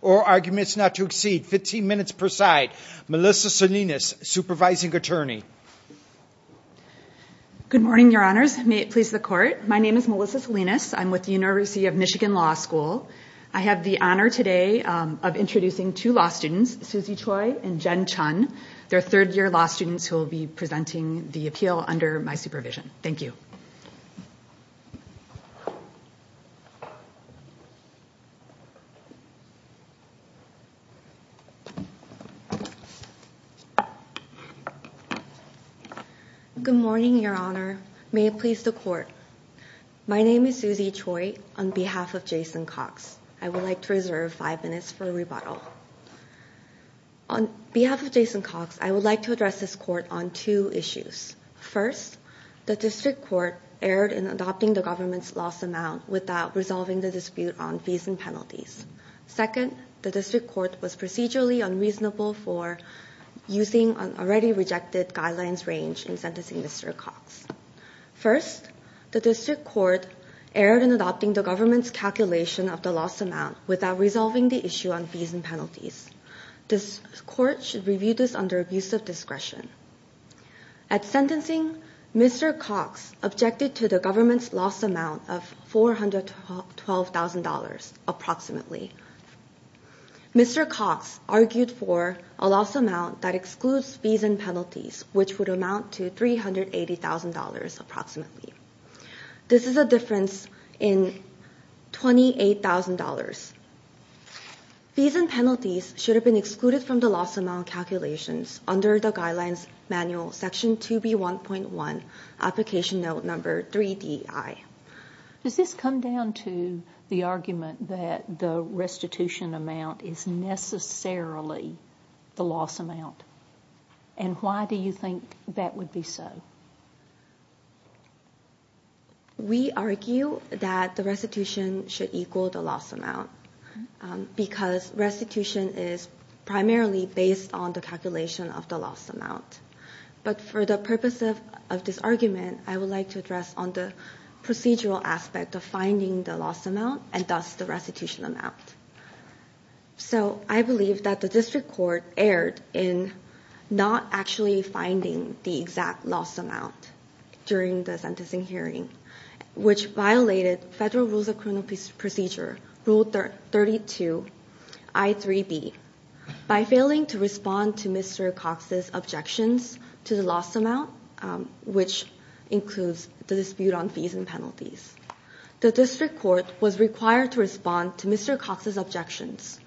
or arguments not to exceed 15 minutes per side. Melissa Salinas, Supervising Attorney. Good morning, your honors. May it please the court. My name is Melissa Salinas. I'm with the University of Michigan Law School. I have the honor today of introducing two law students, Susie Choi and Jen Chun. They're third year law students who will be presenting the appeal under my supervision. Thank you. Good morning, your honor. May it please the court. My name is Susie Choi on behalf of Jason Cox. I would like to reserve five minutes for rebuttal. On behalf of Jason Cox, I would like to address this court on two issues. First, the district court erred in adopting the government's loss amount without resolving the dispute on fees and penalties. Second, the district court was procedurally unreasonable for using an already rejected guidelines range in sentencing Mr. Cox. First, the district court erred in adopting the government's calculation of the loss amount without resolving the issue on fees and penalties. This court should review this under abuse of discretion. At sentencing, Mr. Cox objected to the government's loss amount of $412,000 approximately. Mr. Cox argued for a loss amount that excludes fees and penalties, which would amount to $380,000 approximately. This is a difference in $28,000. Fees and penalties should have been excluded from the loss amount calculations under the guidelines manual section 2B1.1 application note number 3DI. Does this come down to the argument that the restitution amount is necessarily the loss amount? And why do you think that would be so? We argue that the restitution should equal the loss amount because restitution is primarily based on the calculation of the loss amount. But for the purpose of this argument, I would like to address on the procedural aspect of finding the loss amount and thus the restitution amount. So I believe that the district court erred in not actually finding the exact loss amount during the sentencing hearing, which violated Federal Rules of Criminal Procedure, Rule 32, I3B, by failing to respond to Mr. Cox's objections to the loss amount, which includes the dispute on fees and penalties. The district court was required to respond to Mr. Cox's objections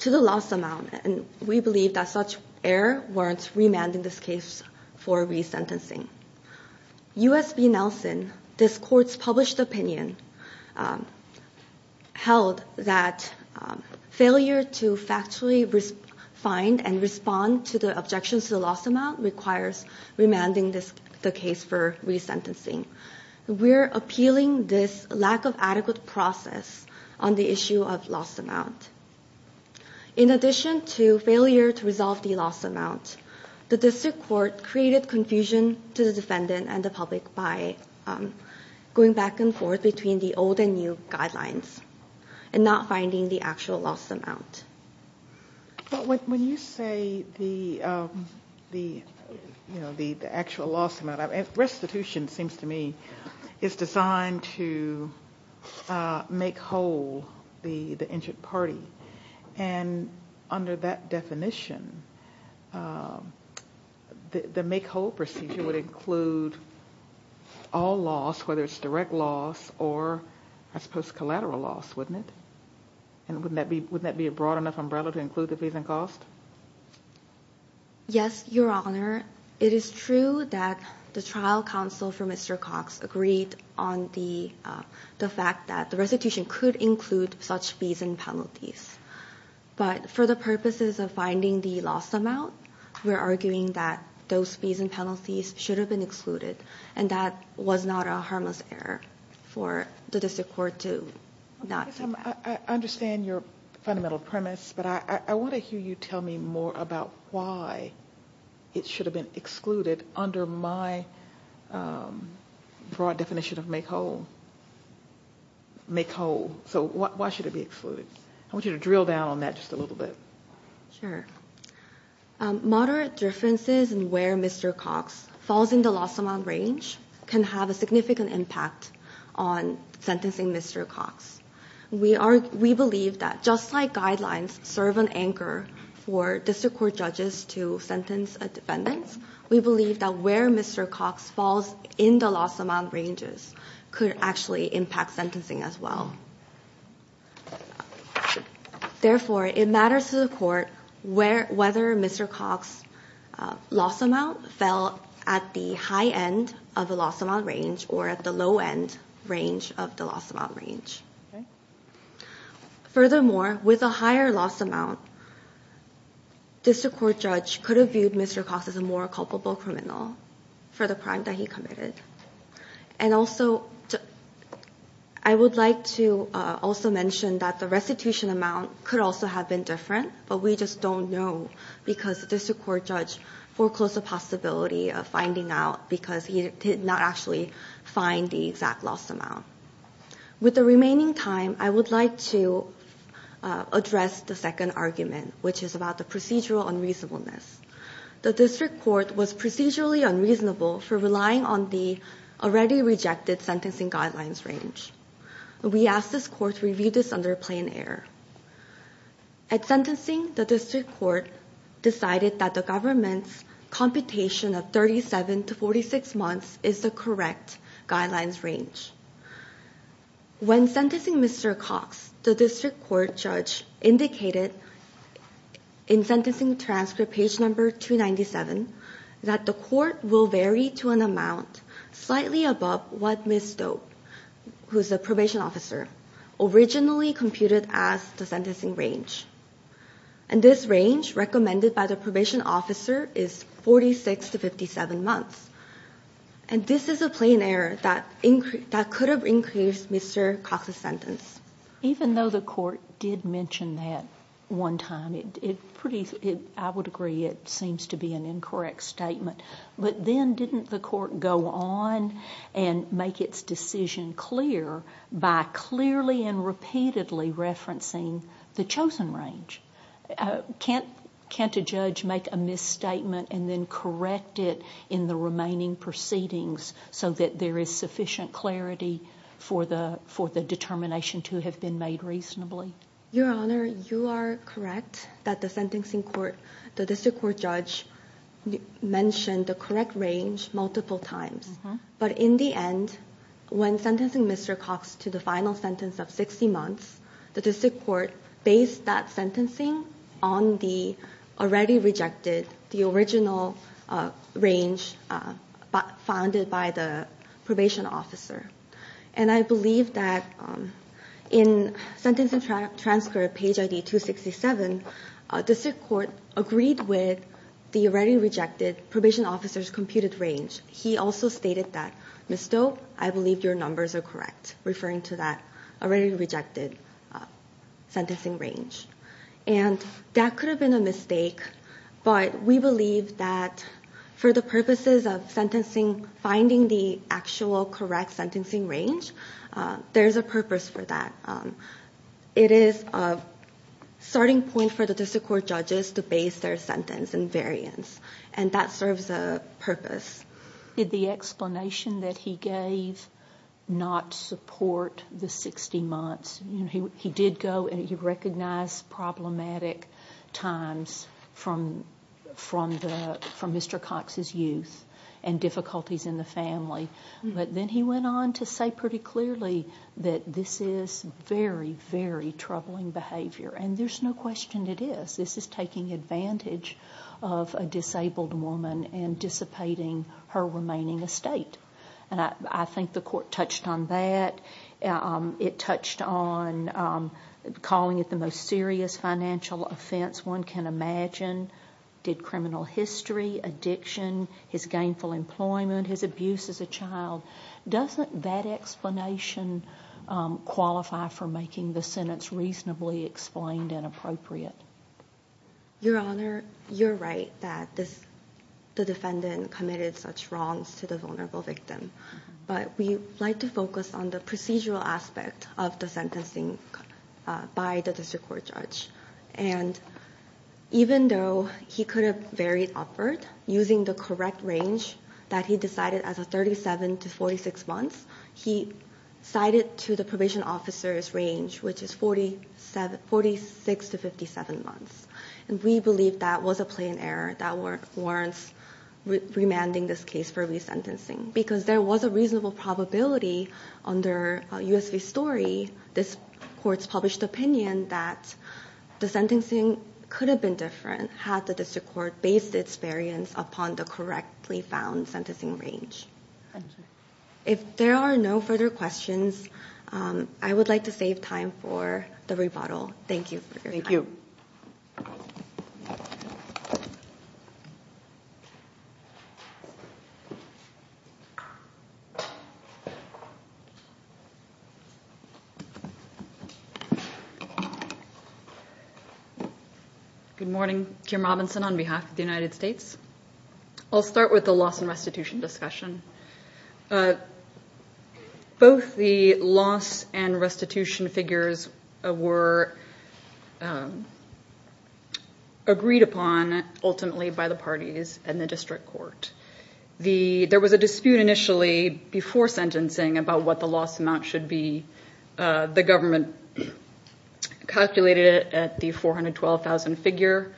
to the loss amount, and we believe that such error warrants remanding this case for resentencing. U.S. v. Nelson, this court's published opinion, held that failure to factually find and respond to the objections to the loss amount requires remanding the case for resentencing. We're appealing this lack of adequate process on the issue of loss amount. In addition to failure to resolve the loss amount, the district court created confusion to the defendant and the public by going back and forth between the old and new guidelines and not finding the actual loss amount. When you say the actual loss amount, restitution seems to me is designed to make whole the injured party, and under that definition, the make whole procedure would include all loss, whether it's direct loss or I suppose collateral loss, wouldn't it? And wouldn't that be a broad enough umbrella to include the fees and costs? Yes, Your Honor. It is true that the trial counsel for Mr. Cox agreed on the fact that the restitution could include such fees and penalties, but for the purposes of finding the loss amount, we're arguing that those fees and penalties should have been excluded, and that was not a harmless error for the district court to not take that. I understand your fundamental premise, but I want to hear you tell me more about why it should have been excluded under my broad definition of make whole. So why should it be excluded? I want you to drill down on that just a little bit. Sure. Moderate differences in where Mr. Cox falls in the loss amount range can have a significant impact on sentencing Mr. Cox. We believe that just like guidelines serve an anchor for district court judges to sentence a defendant, we believe that where Mr. Cox falls in the loss amount ranges could actually impact sentencing as well. Therefore, it matters to the court whether Mr. Cox's loss amount fell at the high end of the loss amount range or at the low end range of the loss amount range. Furthermore, with a higher loss amount, district court judge could have viewed Mr. Cox as a more culpable criminal for the crime that he committed. And also, I would like to also mention that the restitution amount could also have been different, but we just don't know because district court judge foreclosed the possibility of finding out because he did not actually find the exact loss amount. With the remaining time, I would like to address the second argument, which is about the procedural unreasonableness. The district court was procedurally unreasonable for relying on the already rejected sentencing guidelines range. We asked this court to review this under plan error. At sentencing, the district court decided that the government's computation of 37 to 46 months is the correct guidelines range. When sentencing Mr. Cox, the district court judge indicated in sentencing transcript page number 297 that the court will vary to an amount slightly above what Ms. Doak, who is a probation officer, originally computed as the sentencing range. And this range, recommended by the probation officer, is 46 to 57 months. And this is a plan error that could have increased Mr. Cox's sentence. Even though the court did mention that one time, I would agree it seems to be an incorrect statement. But then didn't the court go on and make its decision clear by clearly and repeatedly referencing the chosen range? Can't a judge make a misstatement and then correct it in the remaining proceedings so that there is sufficient clarity for the determination to have been made reasonably? Your Honor, you are correct that the sentencing court, the district court judge mentioned the correct range multiple times. But in the end, when sentencing Mr. Cox to the final sentence of 60 months, the district court based that sentencing on the already rejected, the original range founded by the probation officer. And I believe that in sentencing transcript page ID 267, the district court agreed with the already rejected probation officer's computed range. He also stated that, Ms. Doak, I believe your numbers are correct, referring to that already rejected sentencing range. And that could have been a mistake, but we believe that for the purposes of sentencing, finding the actual correct sentencing range, there's a purpose for that. It is a starting point for the district court judges to base their sentence and variance. And that serves a purpose. Did the explanation that he gave not support the 60 months? He did go and he recognized problematic times from Mr. Cox's youth and difficulties in the family. But then he went on to say pretty clearly that this is very, very troubling behavior. And there's no question it is. This is taking advantage of a disabled woman and dissipating her remaining estate. And I think the court touched on that. It touched on calling it the most serious financial offense one can imagine. Did criminal history, addiction, his gainful employment, his abuse as a child. Doesn't that explanation qualify for making the sentence reasonably explained and appropriate? Your Honor, you're right that this defendant committed such wrongs to the vulnerable victim. But we like to focus on the procedural aspect of the sentencing by the district court judge. And even though he could have varied upward using the correct range that he decided as a 37 to 46 months, he cited to the probation officer's range, which is 46 to 57 months. And we believe that was a plain error that warrants remanding this case for resentencing. Because there was a reasonable probability under U.S. v. Story, this court's published opinion that the sentencing could have been different had the district court based its variance upon the correctly found sentencing range. If there are no further questions, I would like to save time for the rebuttal. Thank you. Thank you. Good morning. Kim Robinson on behalf of the United States. I'll start with the loss and restitution discussion. Both the loss and restitution figures were agreed upon ultimately by the parties and the district court. There was a dispute initially before sentencing about what the loss amount should be. The government calculated it at the 412,000 figure.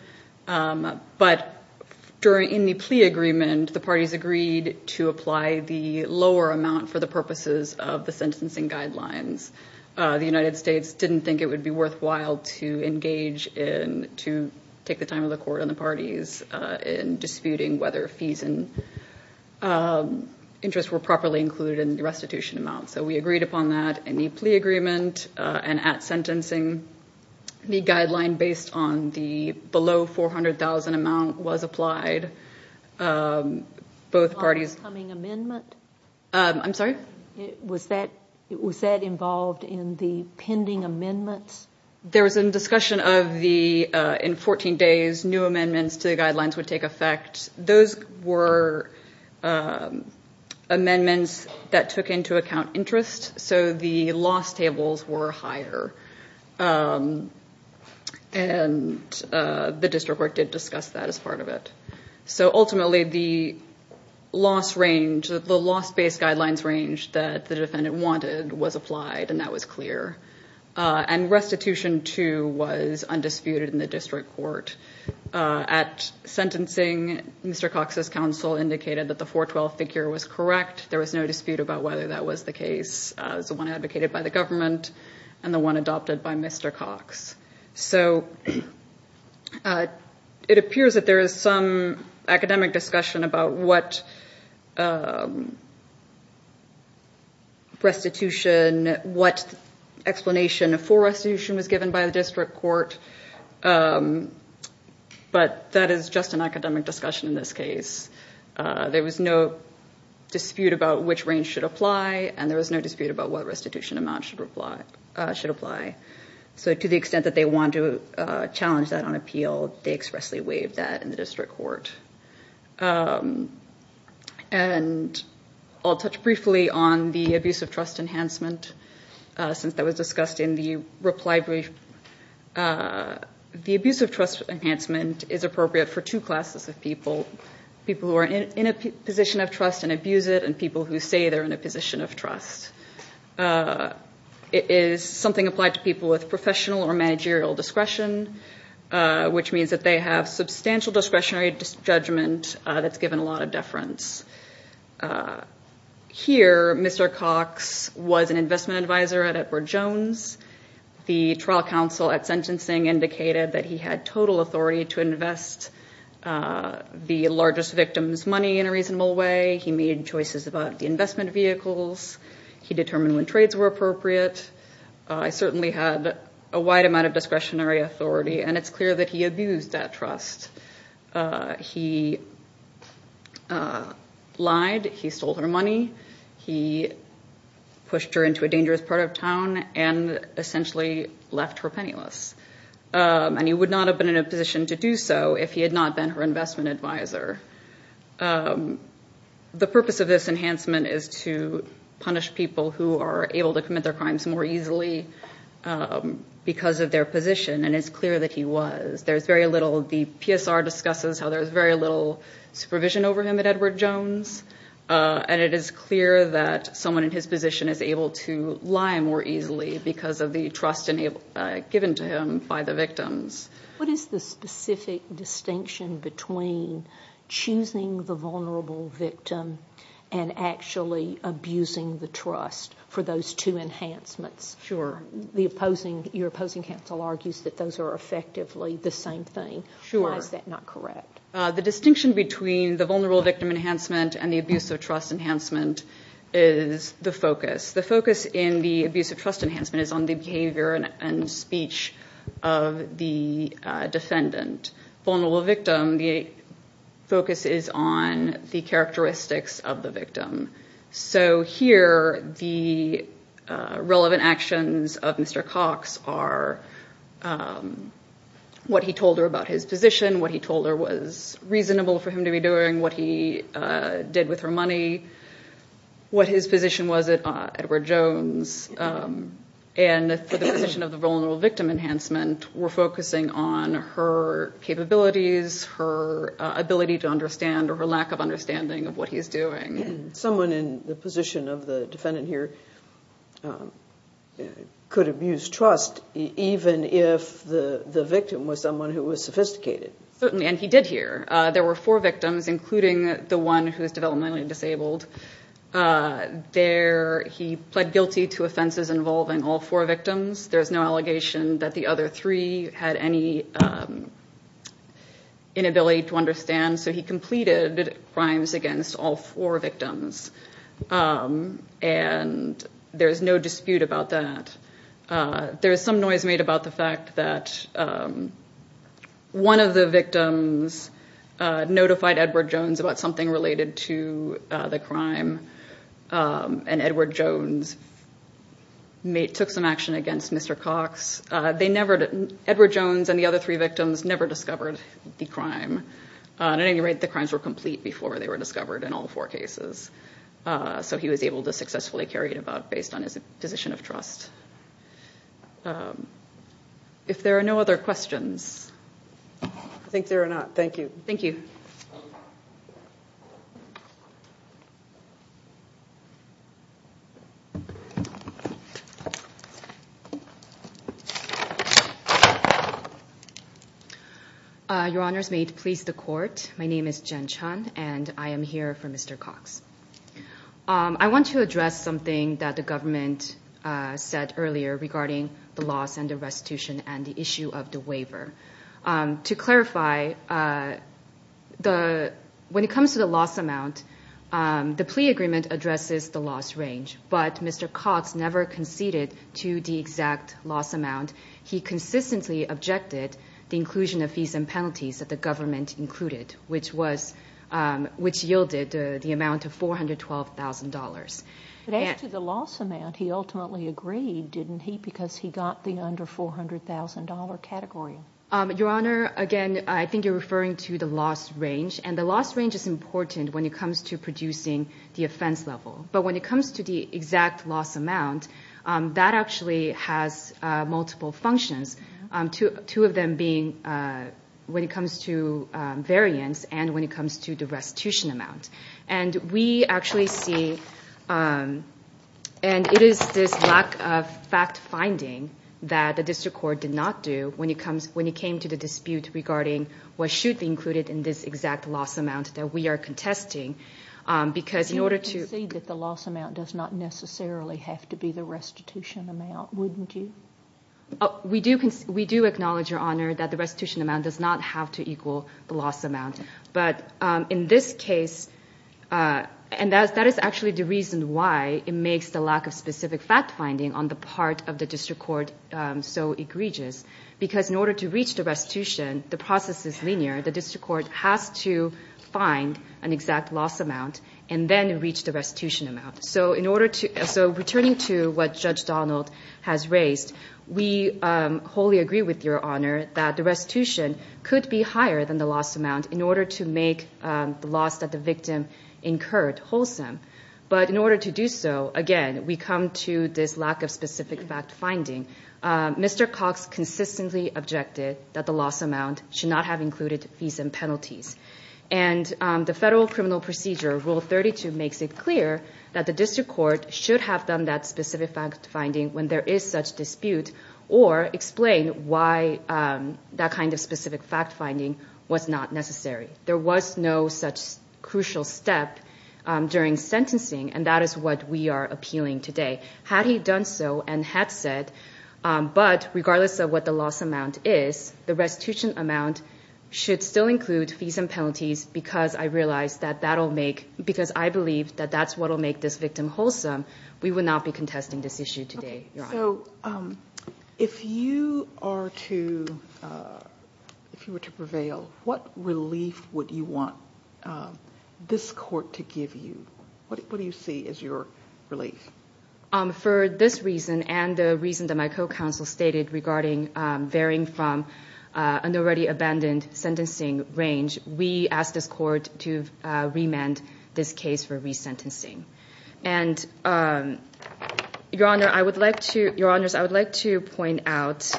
But in the plea agreement, the parties agreed to apply the lower amount for the purposes of the sentencing guidelines. The United States didn't think it would be worthwhile to engage in, to take the time of the court and the parties in disputing whether fees and interest were properly included in the restitution amount. So we agreed upon that in the plea agreement and at sentencing. The guideline based on the below 400,000 amount was applied. Was that coming amendment? I'm sorry? Was that involved in the pending amendments? There was a discussion of the, in 14 days, new amendments to the guidelines would take effect. Those were amendments that took into account interest. So the loss tables were higher. And the district court did discuss that as part of it. So ultimately the loss range, the loss based guidelines range that the defendant wanted was applied and that was clear. And restitution too was undisputed in the district court. At sentencing, Mr. Cox's counsel indicated that the 412 figure was correct. There was no dispute about whether that was the case. It was the one advocated by the government and the one adopted by Mr. Cox. So it appears that there is some academic discussion about what restitution, what explanation for restitution was given by the district court, but that is just an academic discussion in this case. There was no dispute about which range should apply and there was no dispute about what restitution amount should apply. So to the extent that they wanted to challenge that on appeal, they expressly waived that in the district court. And I'll touch briefly on the abuse of trust enhancement since that was discussed in the reply brief. The abuse of trust enhancement is appropriate for two classes of people. People who are in a position of trust and abuse it and people who say they are in a position of trust. It is something applied to people with professional or managerial discretion, which means that they have substantial discretionary judgment that's given a lot of deference. Here, Mr. Cox was an investment advisor at Edward Jones. The trial counsel at sentencing indicated that he had total authority to invest the largest victim's money in a reasonable way. He made choices about the investment vehicles. He determined when trades were appropriate. I certainly had a wide amount of discretionary authority and it's clear that he abused that trust. He lied. He stole her money. He pushed her into a dangerous part of town and essentially left her penniless. And he would not have been in a position to do so if he had not been her investment advisor. The purpose of this enhancement is to punish people who are able to commit their crimes more easily because of their position and it's clear that he was. The PSR discusses how there's very little supervision over him at Edward Jones and it is clear that someone in his position is able to lie more easily because of the trust given to him by the victims. What is the specific distinction between choosing the vulnerable victim and actually abusing the trust for those two enhancements? Your opposing counsel argues that those are effectively the same thing. Why is that not correct? The distinction between the vulnerable victim enhancement and the abuse of trust enhancement is the focus. The focus in the abuse of trust enhancement is on the behavior and speech of the defendant. In the abuse of trust enhancement, the focus is on the characteristics of the victim. Here, the relevant actions of Mr. Cox are what he told her about his position, what he told her was reasonable for him to be doing, what he did with her money, what his position was at Edward Jones. For the position of the vulnerable victim enhancement, we're focusing on her capabilities, her ability to understand or her lack of understanding of what he's doing. Someone in the position of the defendant here could abuse trust even if the victim was someone who was sophisticated. He did here. There were four victims, including the one who was developmentally disabled. He pled guilty to offenses involving all four victims. There's no allegation that the other three had any inability to understand. He completed crimes against all four victims. There's no dispute about that. There's some noise made about the fact that one of the victims notified Edward Jones about something related to the crime. Edward Jones took some action against Mr. Cox. Edward Jones and the other three victims never discovered the crime. At any rate, the crimes were complete before they were discovered in all four cases. He was able to successfully carry it about based on his position of trust. If there are no other questions. I think there are not. Thank you. Thank you. Your Honor's made please the court. My name is Jen Chun and I am here for Mr. Cox. I want to address something that the government said earlier regarding the loss and the restitution and the issue of the waiver to clarify the when it comes to the loss amount. The plea agreement addresses the loss range, but Mr. Cox never conceded to the exact loss amount. He consistently objected the inclusion of fees and penalties that the government included, which yielded the amount of $412,000. But as to the loss amount, he ultimately agreed, didn't he, because he got the under $400,000 category? Your Honor, again, I think you're referring to the loss range and the loss range is important when it comes to producing the offense level. But when it comes to the exact loss amount, that actually has multiple functions, two of them being when it comes to variance and when it comes to the restitution amount. And we actually see, and it is this lack of fact finding that the district court did not do when it came to the dispute regarding what should be included in this exact loss amount that we are contesting, because in order to... You don't concede that the loss amount does not necessarily have to be the restitution amount, wouldn't you? We do acknowledge, Your Honor, that the restitution amount does not have to equal the loss amount. But in this case, and that is actually the reason why it makes the lack of specific fact finding on the part of the district court so egregious, because in order to reach the restitution, the process is linear. The district court has to find an exact loss amount and then reach the restitution amount. So returning to what Judge Donald has raised, we wholly agree with Your Honor that the restitution could be higher than the loss amount in order to make the loss that the victim incurred wholesome. But in order to do so, again, we come to this lack of specific fact finding. Mr. Cox consistently objected that the loss amount should not have included fees and penalties. And the Federal Criminal Procedure, Rule 32, makes it clear that the district court should have done that specific fact finding when there is such dispute or explain why that kind of specific fact finding was not necessary. There was no such crucial step during sentencing, and that is what we are appealing today. Had he done so and had said, but regardless of what the loss amount is, the restitution amount should still include fees and penalties because I believe that that's what will make this victim wholesome, we would not be contesting this issue today, Your Honor. So if you were to prevail, what relief would you want this court to give you? What do you see as your relief? For this reason and the reason that my co-counsel stated regarding varying from an already abandoned sentencing range, we ask this court to remand this case for resentencing. Your Honors, I would like to point out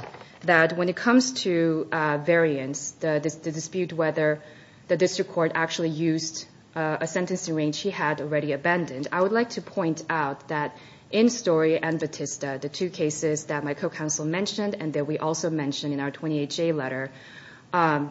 that when it comes to variance, the dispute whether the district court actually used a sentencing range he had already abandoned, I would like to point out that in Story and Batista, the two cases that my co-counsel mentioned and that we also mentioned in our 28-J letter,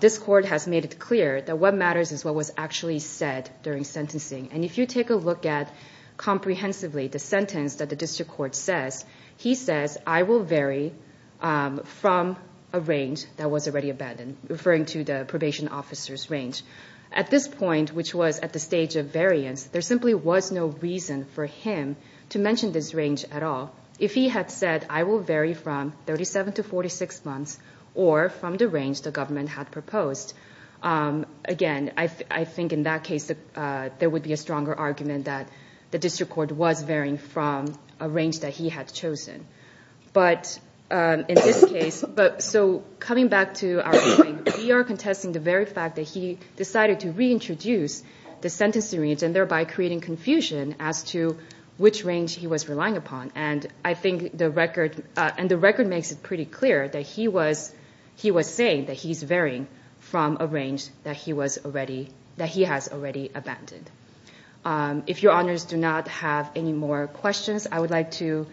this court has made it clear that what matters is what was actually said during sentencing. And if you take a look at comprehensively the sentence that the district court says, he says, I will vary from a range that was already abandoned, referring to the probation officer's range. At this point, which was at the stage of variance, there simply was no reason for him to mention this range at all. If he had said, I will vary from 37 to 46 months or from the range the government had proposed, again, I think in that case there would be a stronger argument that the district court was varying from a range that he had chosen. But in this case, so coming back to our ruling, we are contesting the very fact that he decided to reintroduce the sentencing range and thereby creating confusion as to which range he was relying upon. And I think the record makes it pretty clear that he was saying that he's varying from a range that he has already abandoned. If your honors do not have any more questions, I would like to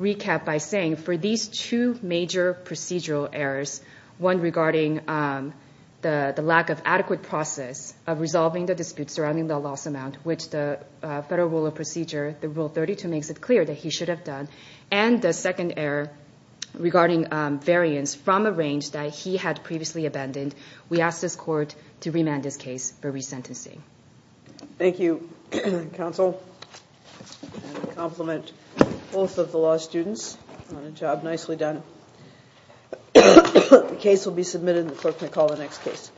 recap by saying for these two major procedural errors, one regarding the lack of adequate process of resolving the dispute surrounding the loss amount, which the Federal Rule of Procedure, the Rule 32, makes it clear that he should have done, and the second error regarding variance from a range that he had previously abandoned, we ask this court to remand this case for resentencing. Thank you, counsel. I compliment both of the law students on a job nicely done. The case will be submitted and the clerk may call the next case.